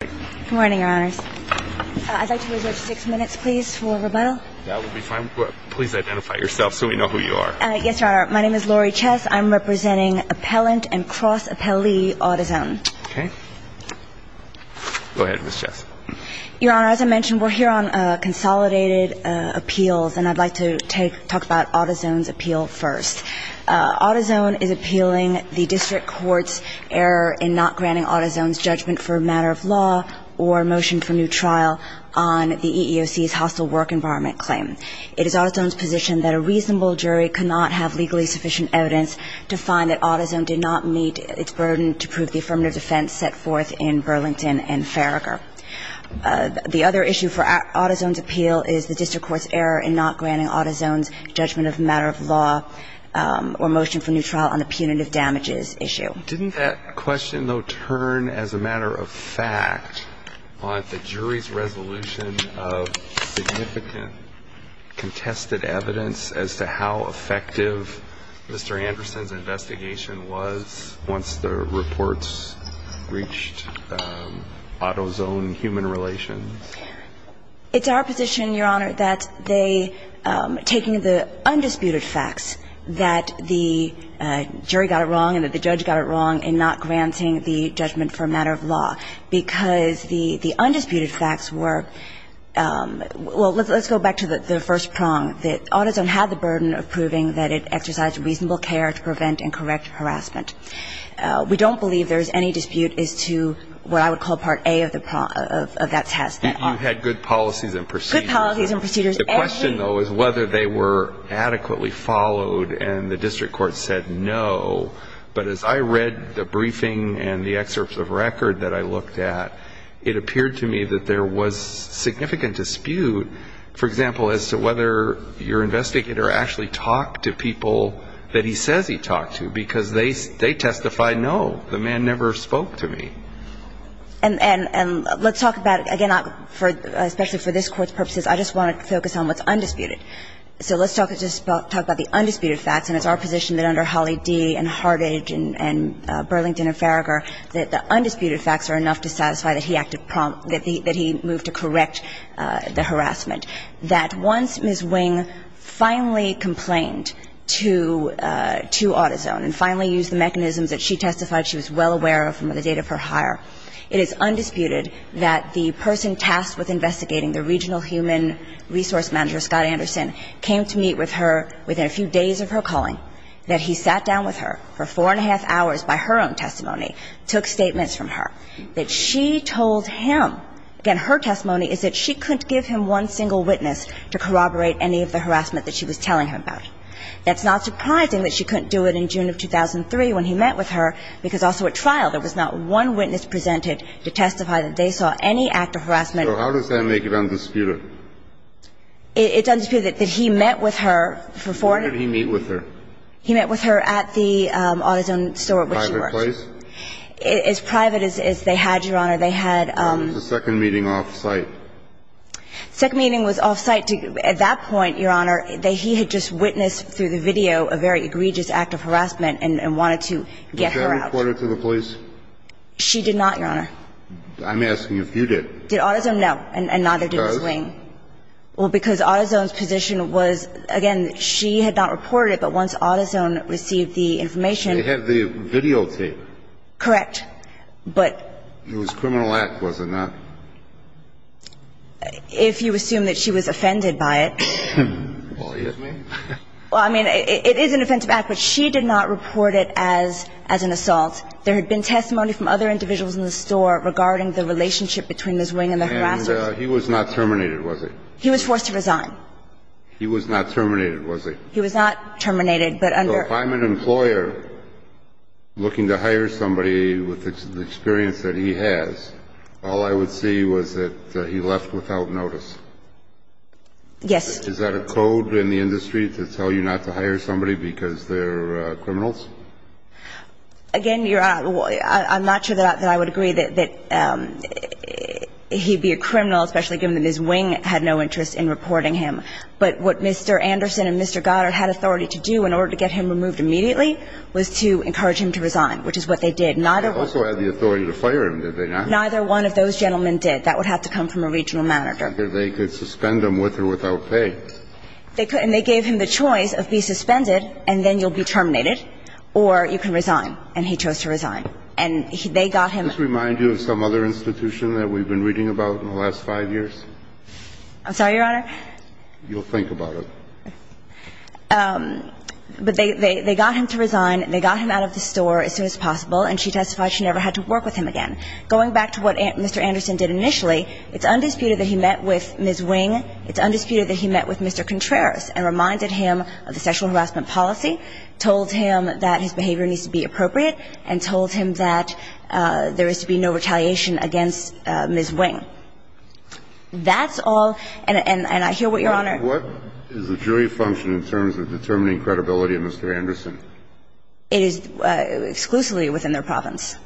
Good morning, Your Honors. I'd like to reserve six minutes, please, for rebuttal. That would be fine. Please identify yourself so we know who you are. Yes, Your Honor. My name is Lori Chess. I'm representing appellant and cross-appellee Autozone. Okay. Go ahead, Ms. Chess. Your Honor, as I mentioned, we're here on consolidated appeals, and I'd like to talk about Autozone's appeal first. Autozone is appealing the district court's error in not granting Autozone's judgment for a matter of law or a motion for new trial on the EEOC's hostile work environment claim. It is Autozone's position that a reasonable jury could not have legally sufficient evidence to find that Autozone did not meet its burden to prove the affirmative defense set forth in Burlington and Farragher. The other issue for Autozone's appeal is the district court's error in not granting Autozone's judgment of a matter of law or motion for new trial on the punitive damages issue. Didn't that question, though, turn as a matter of fact on the jury's resolution of significant contested evidence as to how effective Mr. Anderson's investigation was once the reports reached Autozone human relations? It's our position, Your Honor, that they, taking the undisputed facts that the jury got it wrong and that the judge got it wrong in not granting the judgment for a matter of law, because the undisputed facts were – well, let's go back to the first prong, that Autozone had the burden of proving that it exercised reasonable care to prevent and correct harassment. We don't believe there is any dispute as to what I would call part A of the – of that test. You had good policies and procedures. Good policies and procedures. The question, though, is whether they were adequately followed, and the district court said no, but as I read the briefing and the excerpts of record that I looked at, it appeared to me that there was significant dispute, for example, as to whether your investigator actually talked to people that he says he talked to, because they testified, no, the man never spoke to me. And let's talk about – again, especially for this Court's purposes, I just want to focus on what's undisputed. So let's talk about the undisputed facts, and it's our position that under Holley D. and Hartage and Burlington and Farragher that the undisputed facts are enough to satisfy that he acted – that he moved to correct the harassment. That once Ms. Wing finally complained to AutoZone and finally used the mechanisms that she testified she was well aware of from the date of her hire, it is undisputed that the person tasked with investigating, the regional human resource manager, Scott Anderson, came to meet with her within a few days of her calling, that he sat down with her for four and a half hours by her own testimony, took statements from her, that she told him – again, her testimony is that she couldn't give him one single witness to corroborate any of the harassment that she was telling him about. That's not surprising that she couldn't do it in June of 2003 when he met with her, because also at trial there was not one witness presented to testify that they saw any act of harassment. So how does that make it undisputed? He met with her at the AutoZone store at which she worked. Private place? As private as they had, Your Honor. They had – The second meeting off-site. The second meeting was off-site. At that point, Your Honor, he had just witnessed through the video a very egregious act of harassment and wanted to get her out. Did she report it to the police? She did not, Your Honor. I'm asking if you did. Did AutoZone? No. And neither did Ms. Wing. She does? Well, because AutoZone's position was, again, she had not reported it, but once AutoZone received the information – They had the videotape. Correct. But – It was a criminal act, was it not? If you assume that she was offended by it – Well, yes, ma'am. Well, I mean, it is an offensive act, but she did not report it as an assault. There had been testimony from other individuals in the store regarding the relationship between Ms. Wing and the harassers. And he was not terminated, was he? He was forced to resign. He was not terminated, was he? He was not terminated, but under – So if I'm an employer looking to hire somebody with the experience that he has, all I would see was that he left without notice. Yes. Is that a code in the industry to tell you not to hire somebody because they're criminals? Again, you're – I'm not sure that I would agree that he'd be a criminal, especially given that Ms. Wing had no interest in reporting him. But what Mr. Anderson and Mr. Goddard had authority to do in order to get him removed immediately was to encourage him to resign, which is what they did. Neither – They also had the authority to fire him, did they not? Neither one of those gentlemen did. That would have to come from a regional manager. They could suspend him with or without pay. They could. And they gave him the choice of be suspended and then you'll be terminated or you can resign. And he chose to resign. And they got him – Does this remind you of some other institution that we've been reading about in the last five years? I'm sorry, Your Honor? You'll think about it. But they got him to resign. They got him out of the store as soon as possible, and she testified she never had to work with him again. Going back to what Mr. Anderson did initially, it's undisputed that he met with Ms. Wing. It's undisputed that he met with Mr. Contreras and reminded him of the sexual harassment policy, told him that his behavior needs to be appropriate, and told him that there is to be no retaliation against Ms. Wing. That's all. And I hear what Your Honor – What is the jury function in terms of determining credibility of Mr. Anderson? It is exclusively within their province.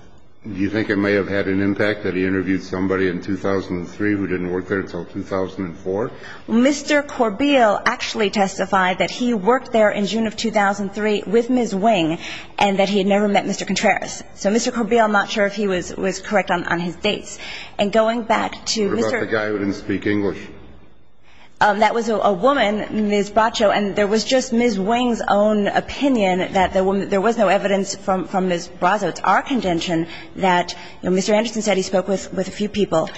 Do you think it may have had an impact that he interviewed somebody in 2003 who didn't work there until 2004? Mr. Corbiel actually testified that he worked there in June of 2003 with Ms. Wing and that he had never met Mr. Contreras. So Mr. Corbiel, I'm not sure if he was correct on his dates. And going back to Mr. – What about the guy who didn't speak English? That was a woman, Ms. Bracho, and there was just Ms. Wing's own opinion that there was no evidence from Ms. Bracho. It's our contention that Mr. Anderson said he spoke with a few people.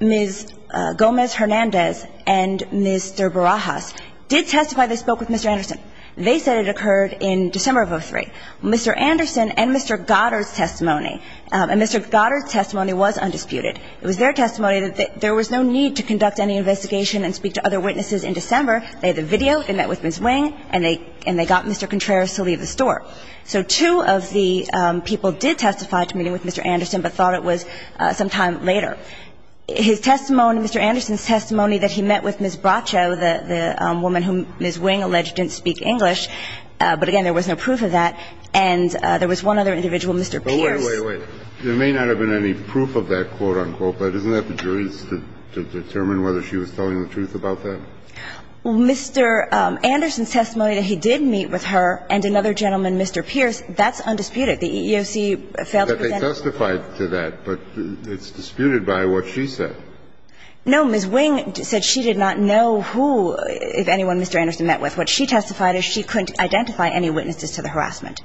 Ms. Gomez-Hernandez and Mr. Barajas did testify they spoke with Mr. Anderson. They said it occurred in December of 2003. Mr. Anderson and Mr. Goddard's testimony, and Mr. Goddard's testimony was undisputed. It was their testimony that there was no need to conduct any investigation and speak to other witnesses in December. They had the video. They met with Ms. Wing, and they got Mr. Contreras to leave the store. So two of the people did testify to meeting with Mr. Anderson, but thought it was sometime later. His testimony, Mr. Anderson's testimony that he met with Ms. Bracho, the woman whom Ms. Wing alleged didn't speak English, but again, there was no proof of that, and there was one other individual, Mr. Pierce. But wait, wait, wait. There may not have been any proof of that, quote, unquote, but isn't that the jury's to determine whether she was telling the truth about that? Mr. Anderson's testimony that he did meet with her and another gentleman, Mr. Pierce, The EEOC failed to present it. But they testified to that, but it's disputed by what she said. No. Ms. Wing said she did not know who, if anyone, Mr. Anderson met with. What she testified is she couldn't identify any witnesses to the harassment.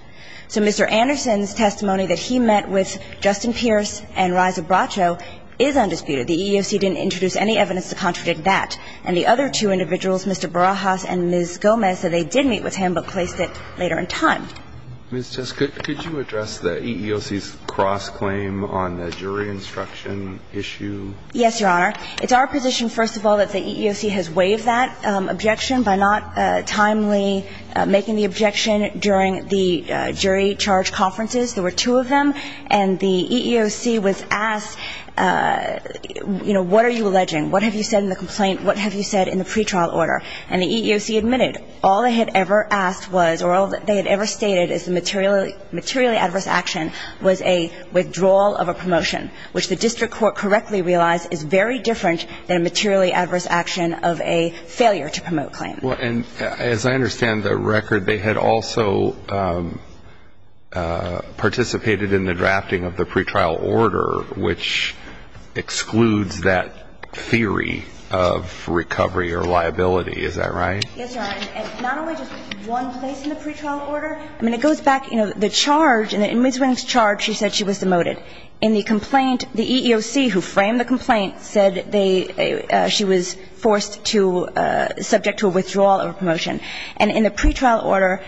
So Mr. Anderson's testimony that he met with Justin Pierce and Reza Bracho is undisputed. The EEOC didn't introduce any evidence to contradict that. And the other two individuals, Mr. Barajas and Ms. Gomez, said they did meet with him but placed it later in time. Ms. Tess, could you address the EEOC's cross-claim on the jury instruction issue? Yes, Your Honor. It's our position, first of all, that the EEOC has waived that objection by not timely making the objection during the jury charge conferences. There were two of them. And the EEOC was asked, you know, what are you alleging? What have you said in the complaint? What have you said in the pretrial order? And the EEOC admitted all they had ever asked was, or all that they had ever stated, is the materially adverse action was a withdrawal of a promotion, which the district court correctly realized is very different than a materially adverse action of a failure to promote claim. Well, and as I understand the record, they had also participated in the drafting of the pretrial order, which excludes that theory of recovery or liability. Is that right? Yes, Your Honor. And not only just one place in the pretrial order, I mean, it goes back, you know, the charge, in Ms. Williams' charge, she said she was demoted. In the complaint, the EEOC, who framed the complaint, said she was forced to, subject to a withdrawal of a promotion. And in the pretrial order,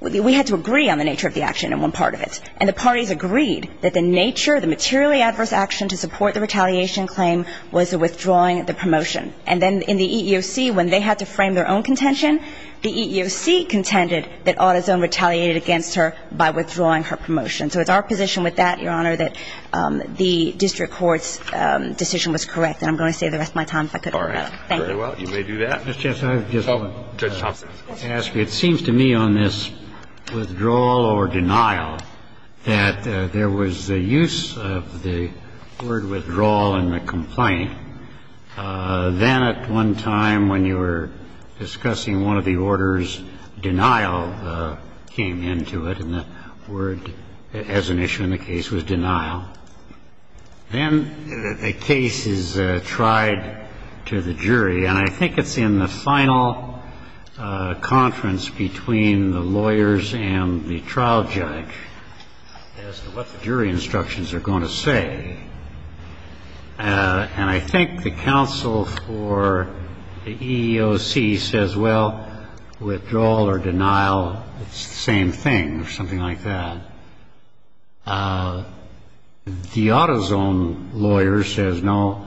we had to agree on the nature of the action in one part of it. And the parties agreed that the nature, the materially adverse action to support the retaliation claim was a withdrawing of the promotion. And then in the EEOC, when they had to frame their own contention, the EEOC contended that AutoZone retaliated against her by withdrawing her promotion. So it's our position with that, Your Honor, that the district court's decision was correct. And I'm going to save the rest of my time if I could. Thank you. All right. Very well. You may do that. Judge Thompson. I would like to ask you, it seems to me on this withdrawal or denial that there was the use of the word withdrawal in the complaint. Then at one time when you were discussing one of the orders, denial came into it, and the word as an issue in the case was denial. Then a case is tried to the jury. And I think it's in the final conference between the lawyers and the trial judge as to what the jury instructions are going to say. And I think the counsel for the EEOC says, well, withdrawal or denial, it's the same thing or something like that. The AutoZone lawyer says, no,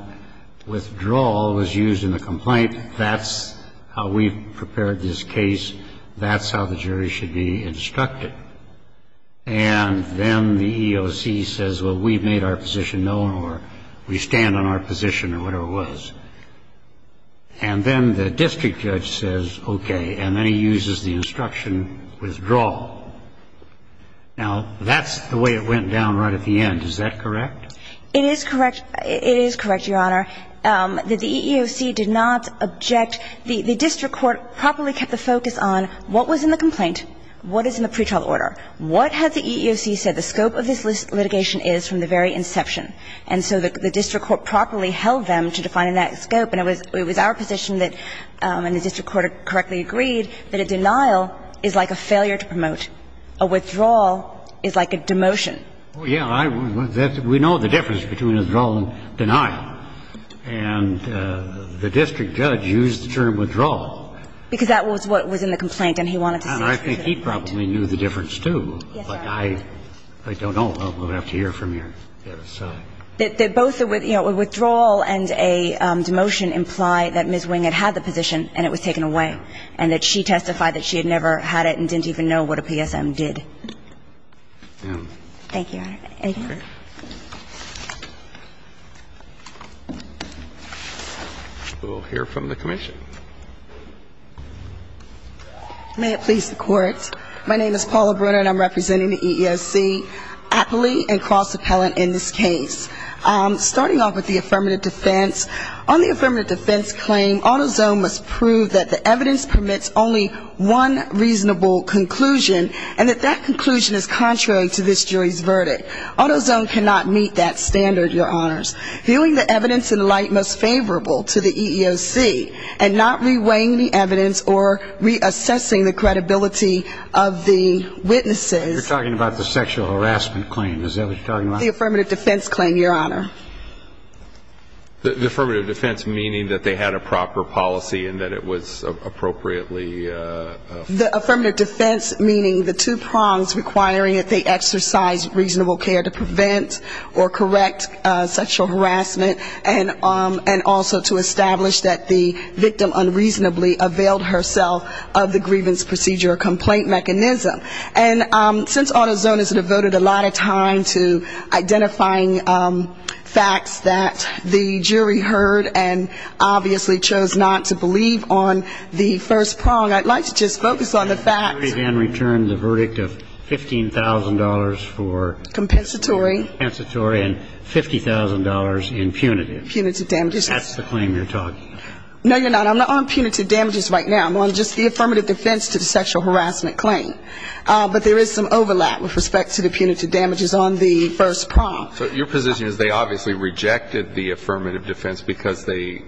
withdrawal was used in the complaint. That's how we prepared this case. That's how the jury should be instructed. And then the EEOC says, well, we've made our position known or we stand on our position or whatever it was. And then the district judge says, okay, and then he uses the instruction, withdraw. Now, that's the way it went down right at the end. Is that correct? It is correct. It is correct, Your Honor. The EEOC did not object. The district court properly kept the focus on what was in the complaint, what is in the pretrial order, what has the EEOC said the scope of this litigation is from the very inception. And so the district court properly held them to define that scope. And it was our position that, and the district court correctly agreed, that a denial is like a failure to promote. A withdrawal is like a demotion. Well, yeah. We know the difference between withdrawal and denial. And the district judge used the term withdrawal. Because that was what was in the complaint and he wanted to see if there was a difference. And I think he probably knew the difference, too. Yes, Your Honor. But I don't know. We'll have to hear from you. Yes. That both the withdrawal and a demotion imply that Ms. Wing had had the position and it was taken away, and that she testified that she had never had it and didn't even know what a PSM did. Thank you, Your Honor. We'll hear from the commission. May it please the Court. My name is Paula Brunner and I'm representing the EEOC. Appellee and cross-appellant in this case. Starting off with the affirmative defense, on the affirmative defense claim, AutoZone must prove that the evidence permits only one reasonable conclusion, and that that conclusion is contrary to this jury's verdict. AutoZone cannot meet that standard, Your Honors. Viewing the evidence in light most favorable to the EEOC and not reweighing the evidence or reassessing the credibility of the witnesses. You're talking about the sexual harassment claim. Is that what you're talking about? The affirmative defense claim, Your Honor. The affirmative defense meaning that they had a proper policy and that it was appropriately ---- The affirmative defense meaning the two prongs requiring that they exercise reasonable care availed herself of the grievance procedure complaint mechanism. And since AutoZone has devoted a lot of time to identifying facts that the jury heard and obviously chose not to believe on the first prong, I'd like to just focus on the facts. The jury then returned the verdict of $15,000 for ---- Compensatory. Compensatory and $50,000 in punitive. Punitive damages. That's the claim you're talking about. No, you're not. I'm not on punitive damages right now. I'm on just the affirmative defense to the sexual harassment claim. But there is some overlap with respect to the punitive damages on the first prong. So your position is they obviously rejected the affirmative defense because they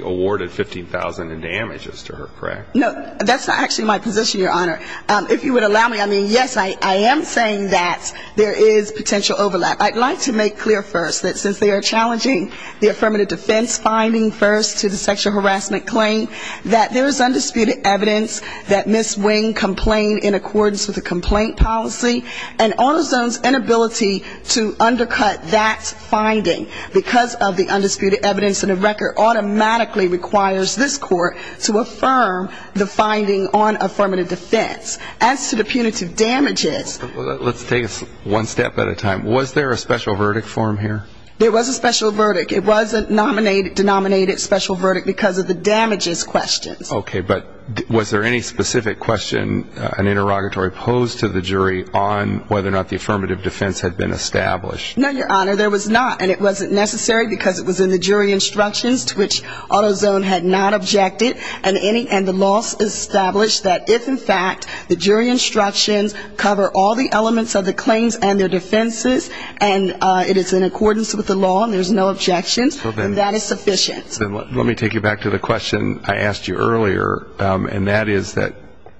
awarded $15,000 in damages to her, correct? No, that's not actually my position, Your Honor. If you would allow me, I mean, yes, I am saying that there is potential overlap. I'd like to make clear first that since they are challenging the affirmative defense finding first to the sexual harassment claim, that there is undisputed evidence that Ms. Wing complained in accordance with the complaint policy and AutoZone's inability to undercut that finding because of the undisputed evidence in the record automatically requires this court to affirm the finding on affirmative defense. As to the punitive damages. Let's take it one step at a time. Was there a special verdict form here? There was a special verdict. It was a denominated special verdict because of the damages questions. Okay. But was there any specific question, an interrogatory pose to the jury on whether or not the affirmative defense had been established? No, Your Honor, there was not. And it wasn't necessary because it was in the jury instructions to which AutoZone had not objected. And the law established that if in fact the jury instructions cover all the elements of the claims and their defenses and it is in accordance with the law and there's no objections, that is sufficient. Let me take you back to the question I asked you earlier, and that is that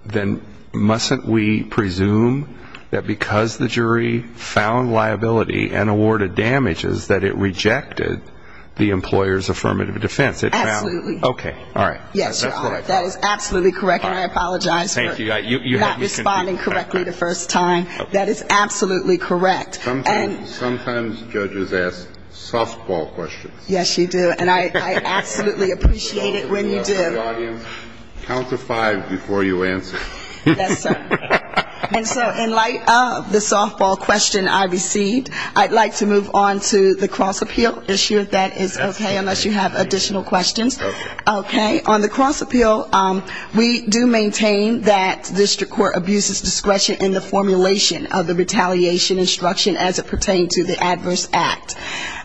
then mustn't we presume that because the jury found liability and awarded damages that it rejected the employer's affirmative defense? Absolutely. Okay. All right. Yes, Your Honor. That is absolutely correct, and I apologize for not responding correctly the first time. That is absolutely correct. Sometimes judges ask softball questions. Yes, you do, and I absolutely appreciate it when you do. The audience, count to five before you answer. Yes, sir. And so in light of the softball question I received, I'd like to move on to the cross-appeal issue. That is okay unless you have additional questions. Okay. Okay. On the cross-appeal, we do maintain that district court abuses discretion in the formulation of the retaliation instruction as it pertained to the adverse act.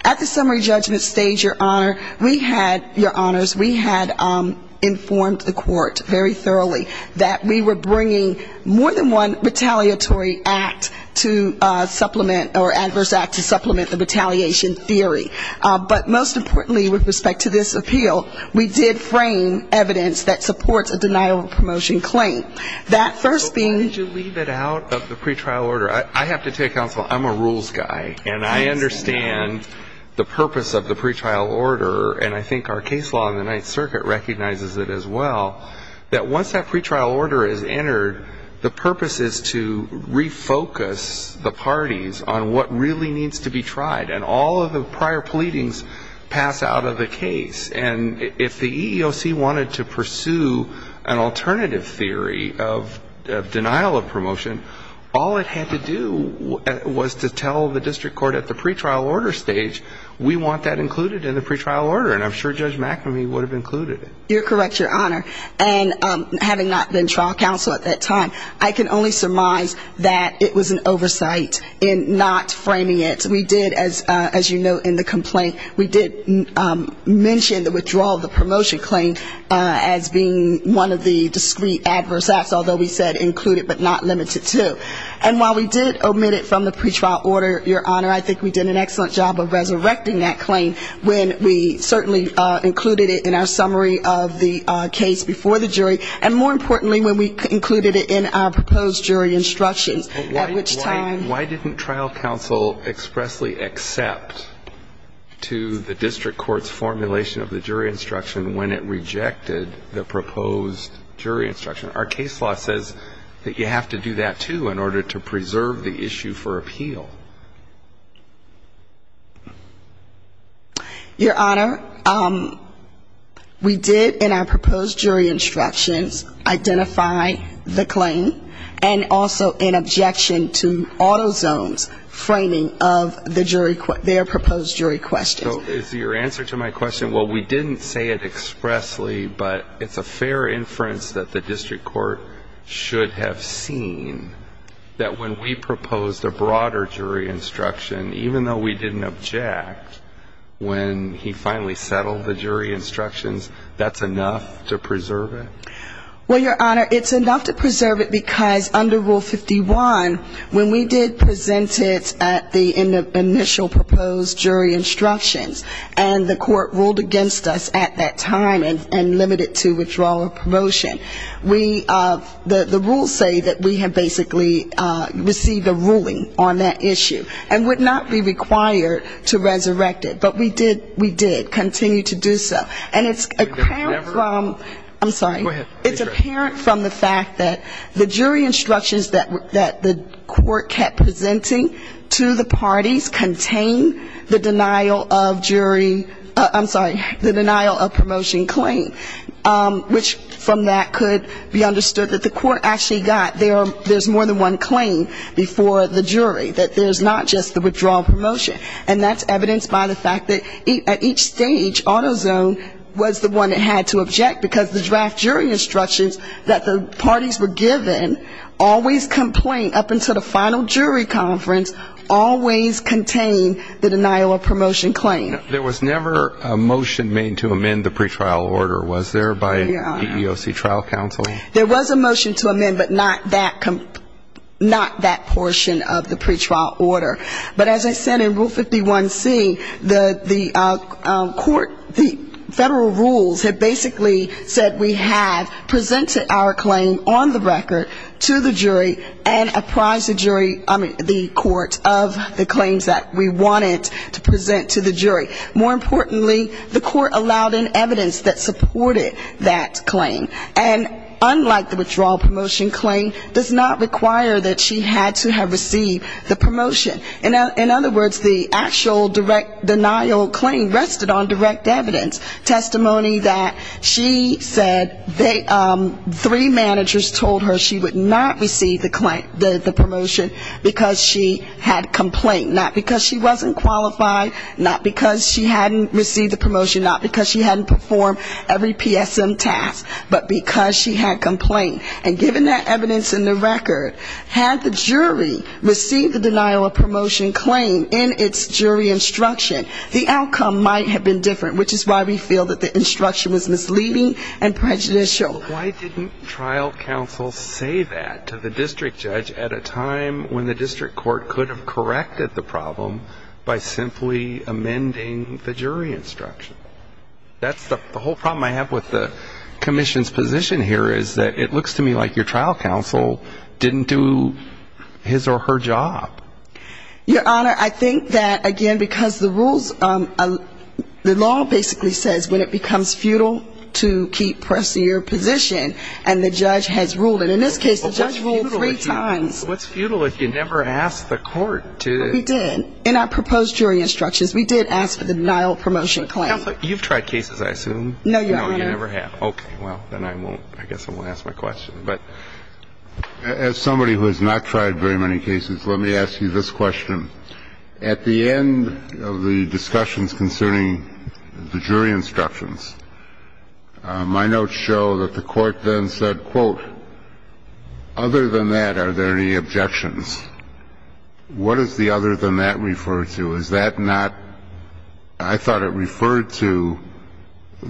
At the summary judgment stage, Your Honor, we had, Your Honors, we had informed the court very thoroughly that we were bringing more than one retaliatory act to supplement or adverse act to supplement the retaliation theory. But most importantly with respect to this appeal, we did frame evidence that supports a denial of a promotion claim. That first being you leave it out of the pretrial order. I have to tell you, counsel, I'm a rules guy, and I understand the purpose of the pretrial order, and I think our case law in the Ninth Circuit recognizes it as well, that once that pretrial order is entered, the purpose is to refocus the parties on what really needs to be tried. And all of the prior pleadings pass out of the case. And if the EEOC wanted to pursue an alternative theory of denial of promotion, all it had to do was to tell the district court at the pretrial order stage, we want that included in the pretrial order. And I'm sure Judge McNamee would have included it. You're correct, Your Honor. And having not been trial counsel at that time, I can only surmise that it was an oversight in not framing it. Yes, we did. As you note in the complaint, we did mention the withdrawal of the promotion claim as being one of the discrete adverse acts, although we said included but not limited to. And while we did omit it from the pretrial order, Your Honor, I think we did an excellent job of resurrecting that claim when we certainly included it in our summary of the case before the jury, and more importantly, when we included it in our proposed jury instructions, at which time ---- Did the EEOC expressly accept to the district court's formulation of the jury instruction when it rejected the proposed jury instruction? Our case law says that you have to do that, too, in order to preserve the issue for appeal. Your Honor, we did in our proposed jury instructions identify the claim, and also in objection to Autozone's framing of the jury ---- their proposed jury question. So is your answer to my question, well, we didn't say it expressly, but it's a fair inference that the district court should have seen that when we proposed a broader jury instruction, even though we didn't object, when he finally settled the jury instructions, that's enough to preserve it? Well, Your Honor, it's enough to preserve it, because under Rule 51, when we did present it at the initial proposed jury instructions, and the court ruled against us at that time and limited it to withdrawal or promotion, we ---- the rules say that we have basically received a ruling on that issue, and would not be required to resurrect it. But we did. We did continue to do so. And it's apparent from ---- I'm sorry. Go ahead. It's apparent from the fact that the jury instructions that the court kept presenting to the parties contained the denial of jury ---- I'm sorry, the denial of promotion claim, which from that could be understood that the court actually got there's more than one claim before the jury, that there's not just the withdrawal promotion. And that's evidenced by the fact that at each stage, AutoZone was the one that had to object, because the draft jury instructions that the parties were given always complain, up until the final jury conference, always contained the denial of promotion claim. There was never a motion made to amend the pretrial order, was there, by EEOC trial counsel? There was a motion to amend, but not that portion of the pretrial order. But as I said, in Rule 51C, the court, the federal rules had basically said we had presented our claim on the record to the jury, and apprised the jury, I mean the court, of the claims that we wanted to present to the jury. More importantly, the court allowed in evidence that supported that claim. And unlike the withdrawal promotion claim, does not require that she had to have received the promotion. In other words, the actual direct denial claim rested on direct evidence, testimony that she said they ---- three managers told her she would not receive the promotion, because she had complained. Not because she wasn't qualified, not because she hadn't received the promotion, but because she had complained. And given that evidence in the record, had the jury received the denial of promotion claim in its jury instruction, the outcome might have been different, which is why we feel that the instruction was misleading and prejudicial. Why didn't trial counsel say that to the district judge at a time when the district court could have corrected the problem by simply amending the jury instruction? That's the whole problem I have with the commission's position. It looks to me like your trial counsel didn't do his or her job. Your Honor, I think that, again, because the rules, the law basically says when it becomes futile to keep pressing your position, and the judge has ruled, and in this case the judge ruled three times. What's futile if you never asked the court to? We did. In our proposed jury instructions, we did ask for the denial of promotion claim. And we did not ask for the denial of the jury instruction. So I think that's the whole problem. Counsel, you've tried cases, I assume. No, Your Honor. No, you never have. Okay. Well, then I won't. I guess I won't ask my question. But as somebody who has not tried very many cases, let me ask you this question. At the end of the discussions concerning the jury instructions, my notes show that the court then said, quote, I have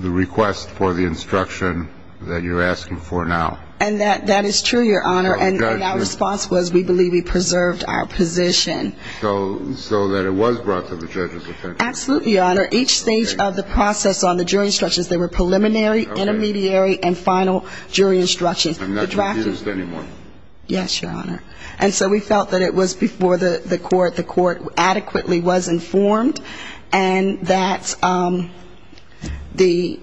a request for the instruction that you're asking for now. And that is true, Your Honor. And our response was we believe we preserved our position. So that it was brought to the judge's attention. Absolutely, Your Honor. Each stage of the process on the jury instructions, they were preliminary, intermediary, and final jury instructions. I'm not confused anymore. Yes, Your Honor. And so we felt that it was before the court, the court adequately was informed, and that the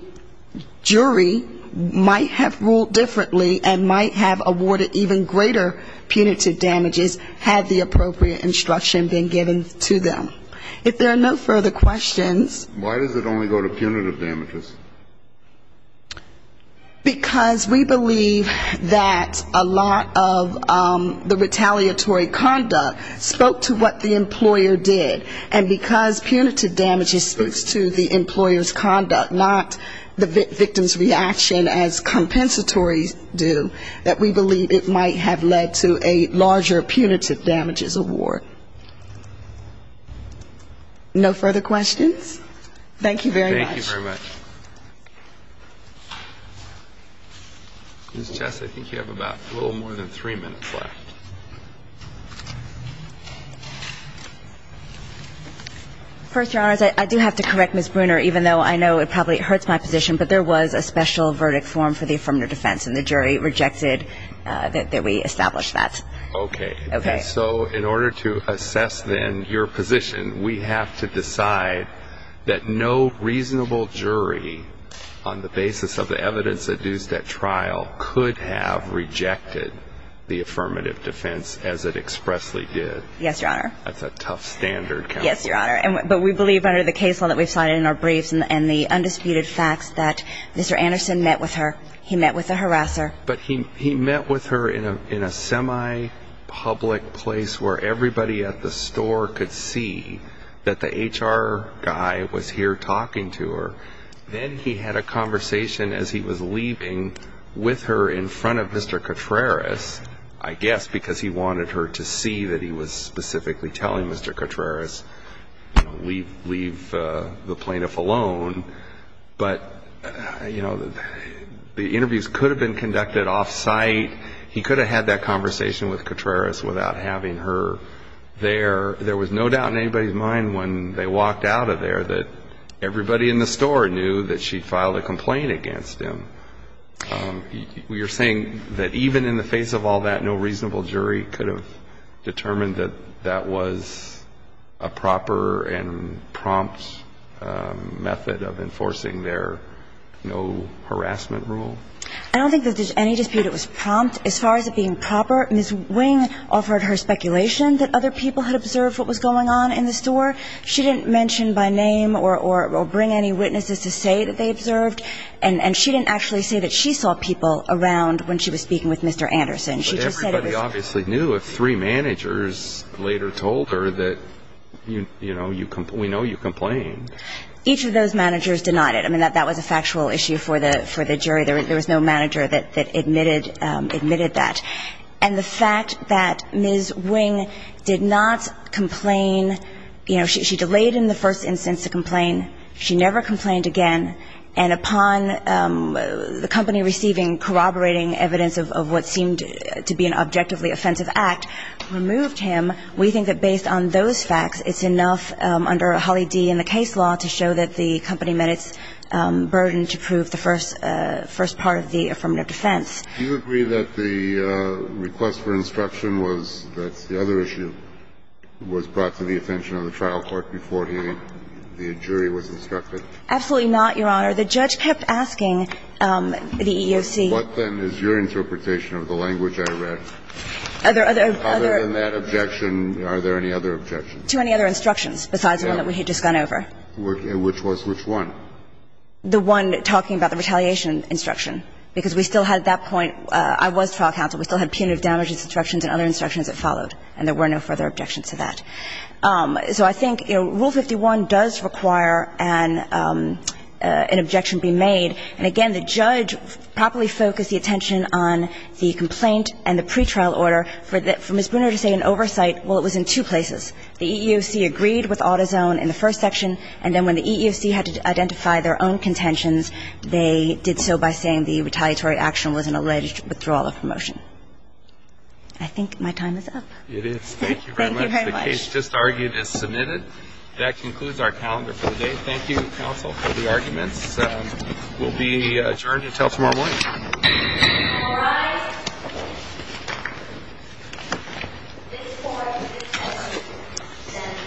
jury might have ruled differently and might have awarded even greater punitive damages, had the appropriate instruction been given to them. If there are no further questions. Why does it only go to punitive damages? Because we believe that a lot of the retaliatory conduct spoke to what the employer did. And because punitive damages speaks to the employer's conduct, not the victim's reaction as compensatory do, that we believe it might have led to a larger punitive damages award. No further questions? Thank you very much. Ms. Chess, I think you have a little more than three minutes left. First, Your Honor, I do have to correct Ms. Bruner, even though I know it probably hurts my position, but there was a special verdict form for the affirmative defense, and the jury rejected that we establish that. Okay. Okay. So in order to assess then your position, we have to decide that no reasonable jury on the basis of the evidence that is at trial could have rejected the affirmative defense as it expressly did. Yes, Your Honor. That's a tough standard. Yes, Your Honor. But we believe under the case law that we've cited in our briefs and the undisputed facts that Mr. Anderson met with her. He met with the harasser. But he met with her in a semi-public place where everybody at the store could see that the HR guy was here talking to her. Then he had a conversation as he was leaving with her in front of Mr. Cotreras, I guess, because he wanted her to see that he was specifically telling Mr. Cotreras, you know, leave the plaintiff alone. But, you know, the interviews could have been conducted off-site. He could have had that conversation with Cotreras without having her there. There was no doubt in anybody's mind when they walked out of there that everybody in the store knew that she filed a complaint against him. You're saying that even in the face of all that, no reasonable jury could have determined that that was a proper and prompt method of enforcing their no harassment rule? I don't think that there's any dispute it was prompt. As far as it being proper, Ms. Wing offered her speculation that other people had observed what was going on in the store. She didn't mention by name or bring any witnesses to say that they observed. And she didn't actually say that she saw people around when she was speaking with Mr. Anderson. But everybody obviously knew if three managers later told her that, you know, we know you complained. Each of those managers denied it. I mean, that was a factual issue for the jury. There was no manager that admitted that. And the fact that Ms. Wing did not complain, you know, she delayed in the first instance to complain. She never complained again. And upon the company receiving corroborating evidence of what seemed to be an objectively offensive act, removed him. We think that based on those facts, it's enough under Holly D. In the case law to show that the company met its burden to prove the first part of the affirmative defense. Do you agree that the request for instruction was that the other issue was brought to the attention of the trial court before the jury was instructed? Absolutely not, Your Honor. The judge kept asking the EEOC. What then is your interpretation of the language I read? Other than that objection, are there any other objections? To any other instructions besides the one that we had just gone over? Which was which one? The one talking about the retaliation instruction. Because we still had at that point – I was trial counsel. We still had punitive damages instructions and other instructions that followed. And there were no further objections to that. So I think, you know, Rule 51 does require an objection be made. And again, the judge properly focused the attention on the complaint and the pretrial order for Ms. Bruner to say an oversight. Well, it was in two places. The EEOC agreed with Autozone in the first section, and then when the EEOC had to identify their own contentions, they did so by saying the retaliatory action was an alleged withdrawal of promotion. I think my time is up. It is. Thank you very much. The case just argued is submitted. That concludes our calendar for the day. Thank you, counsel, for the arguments. We'll be adjourned until tomorrow morning. All rise. This court is adjourned.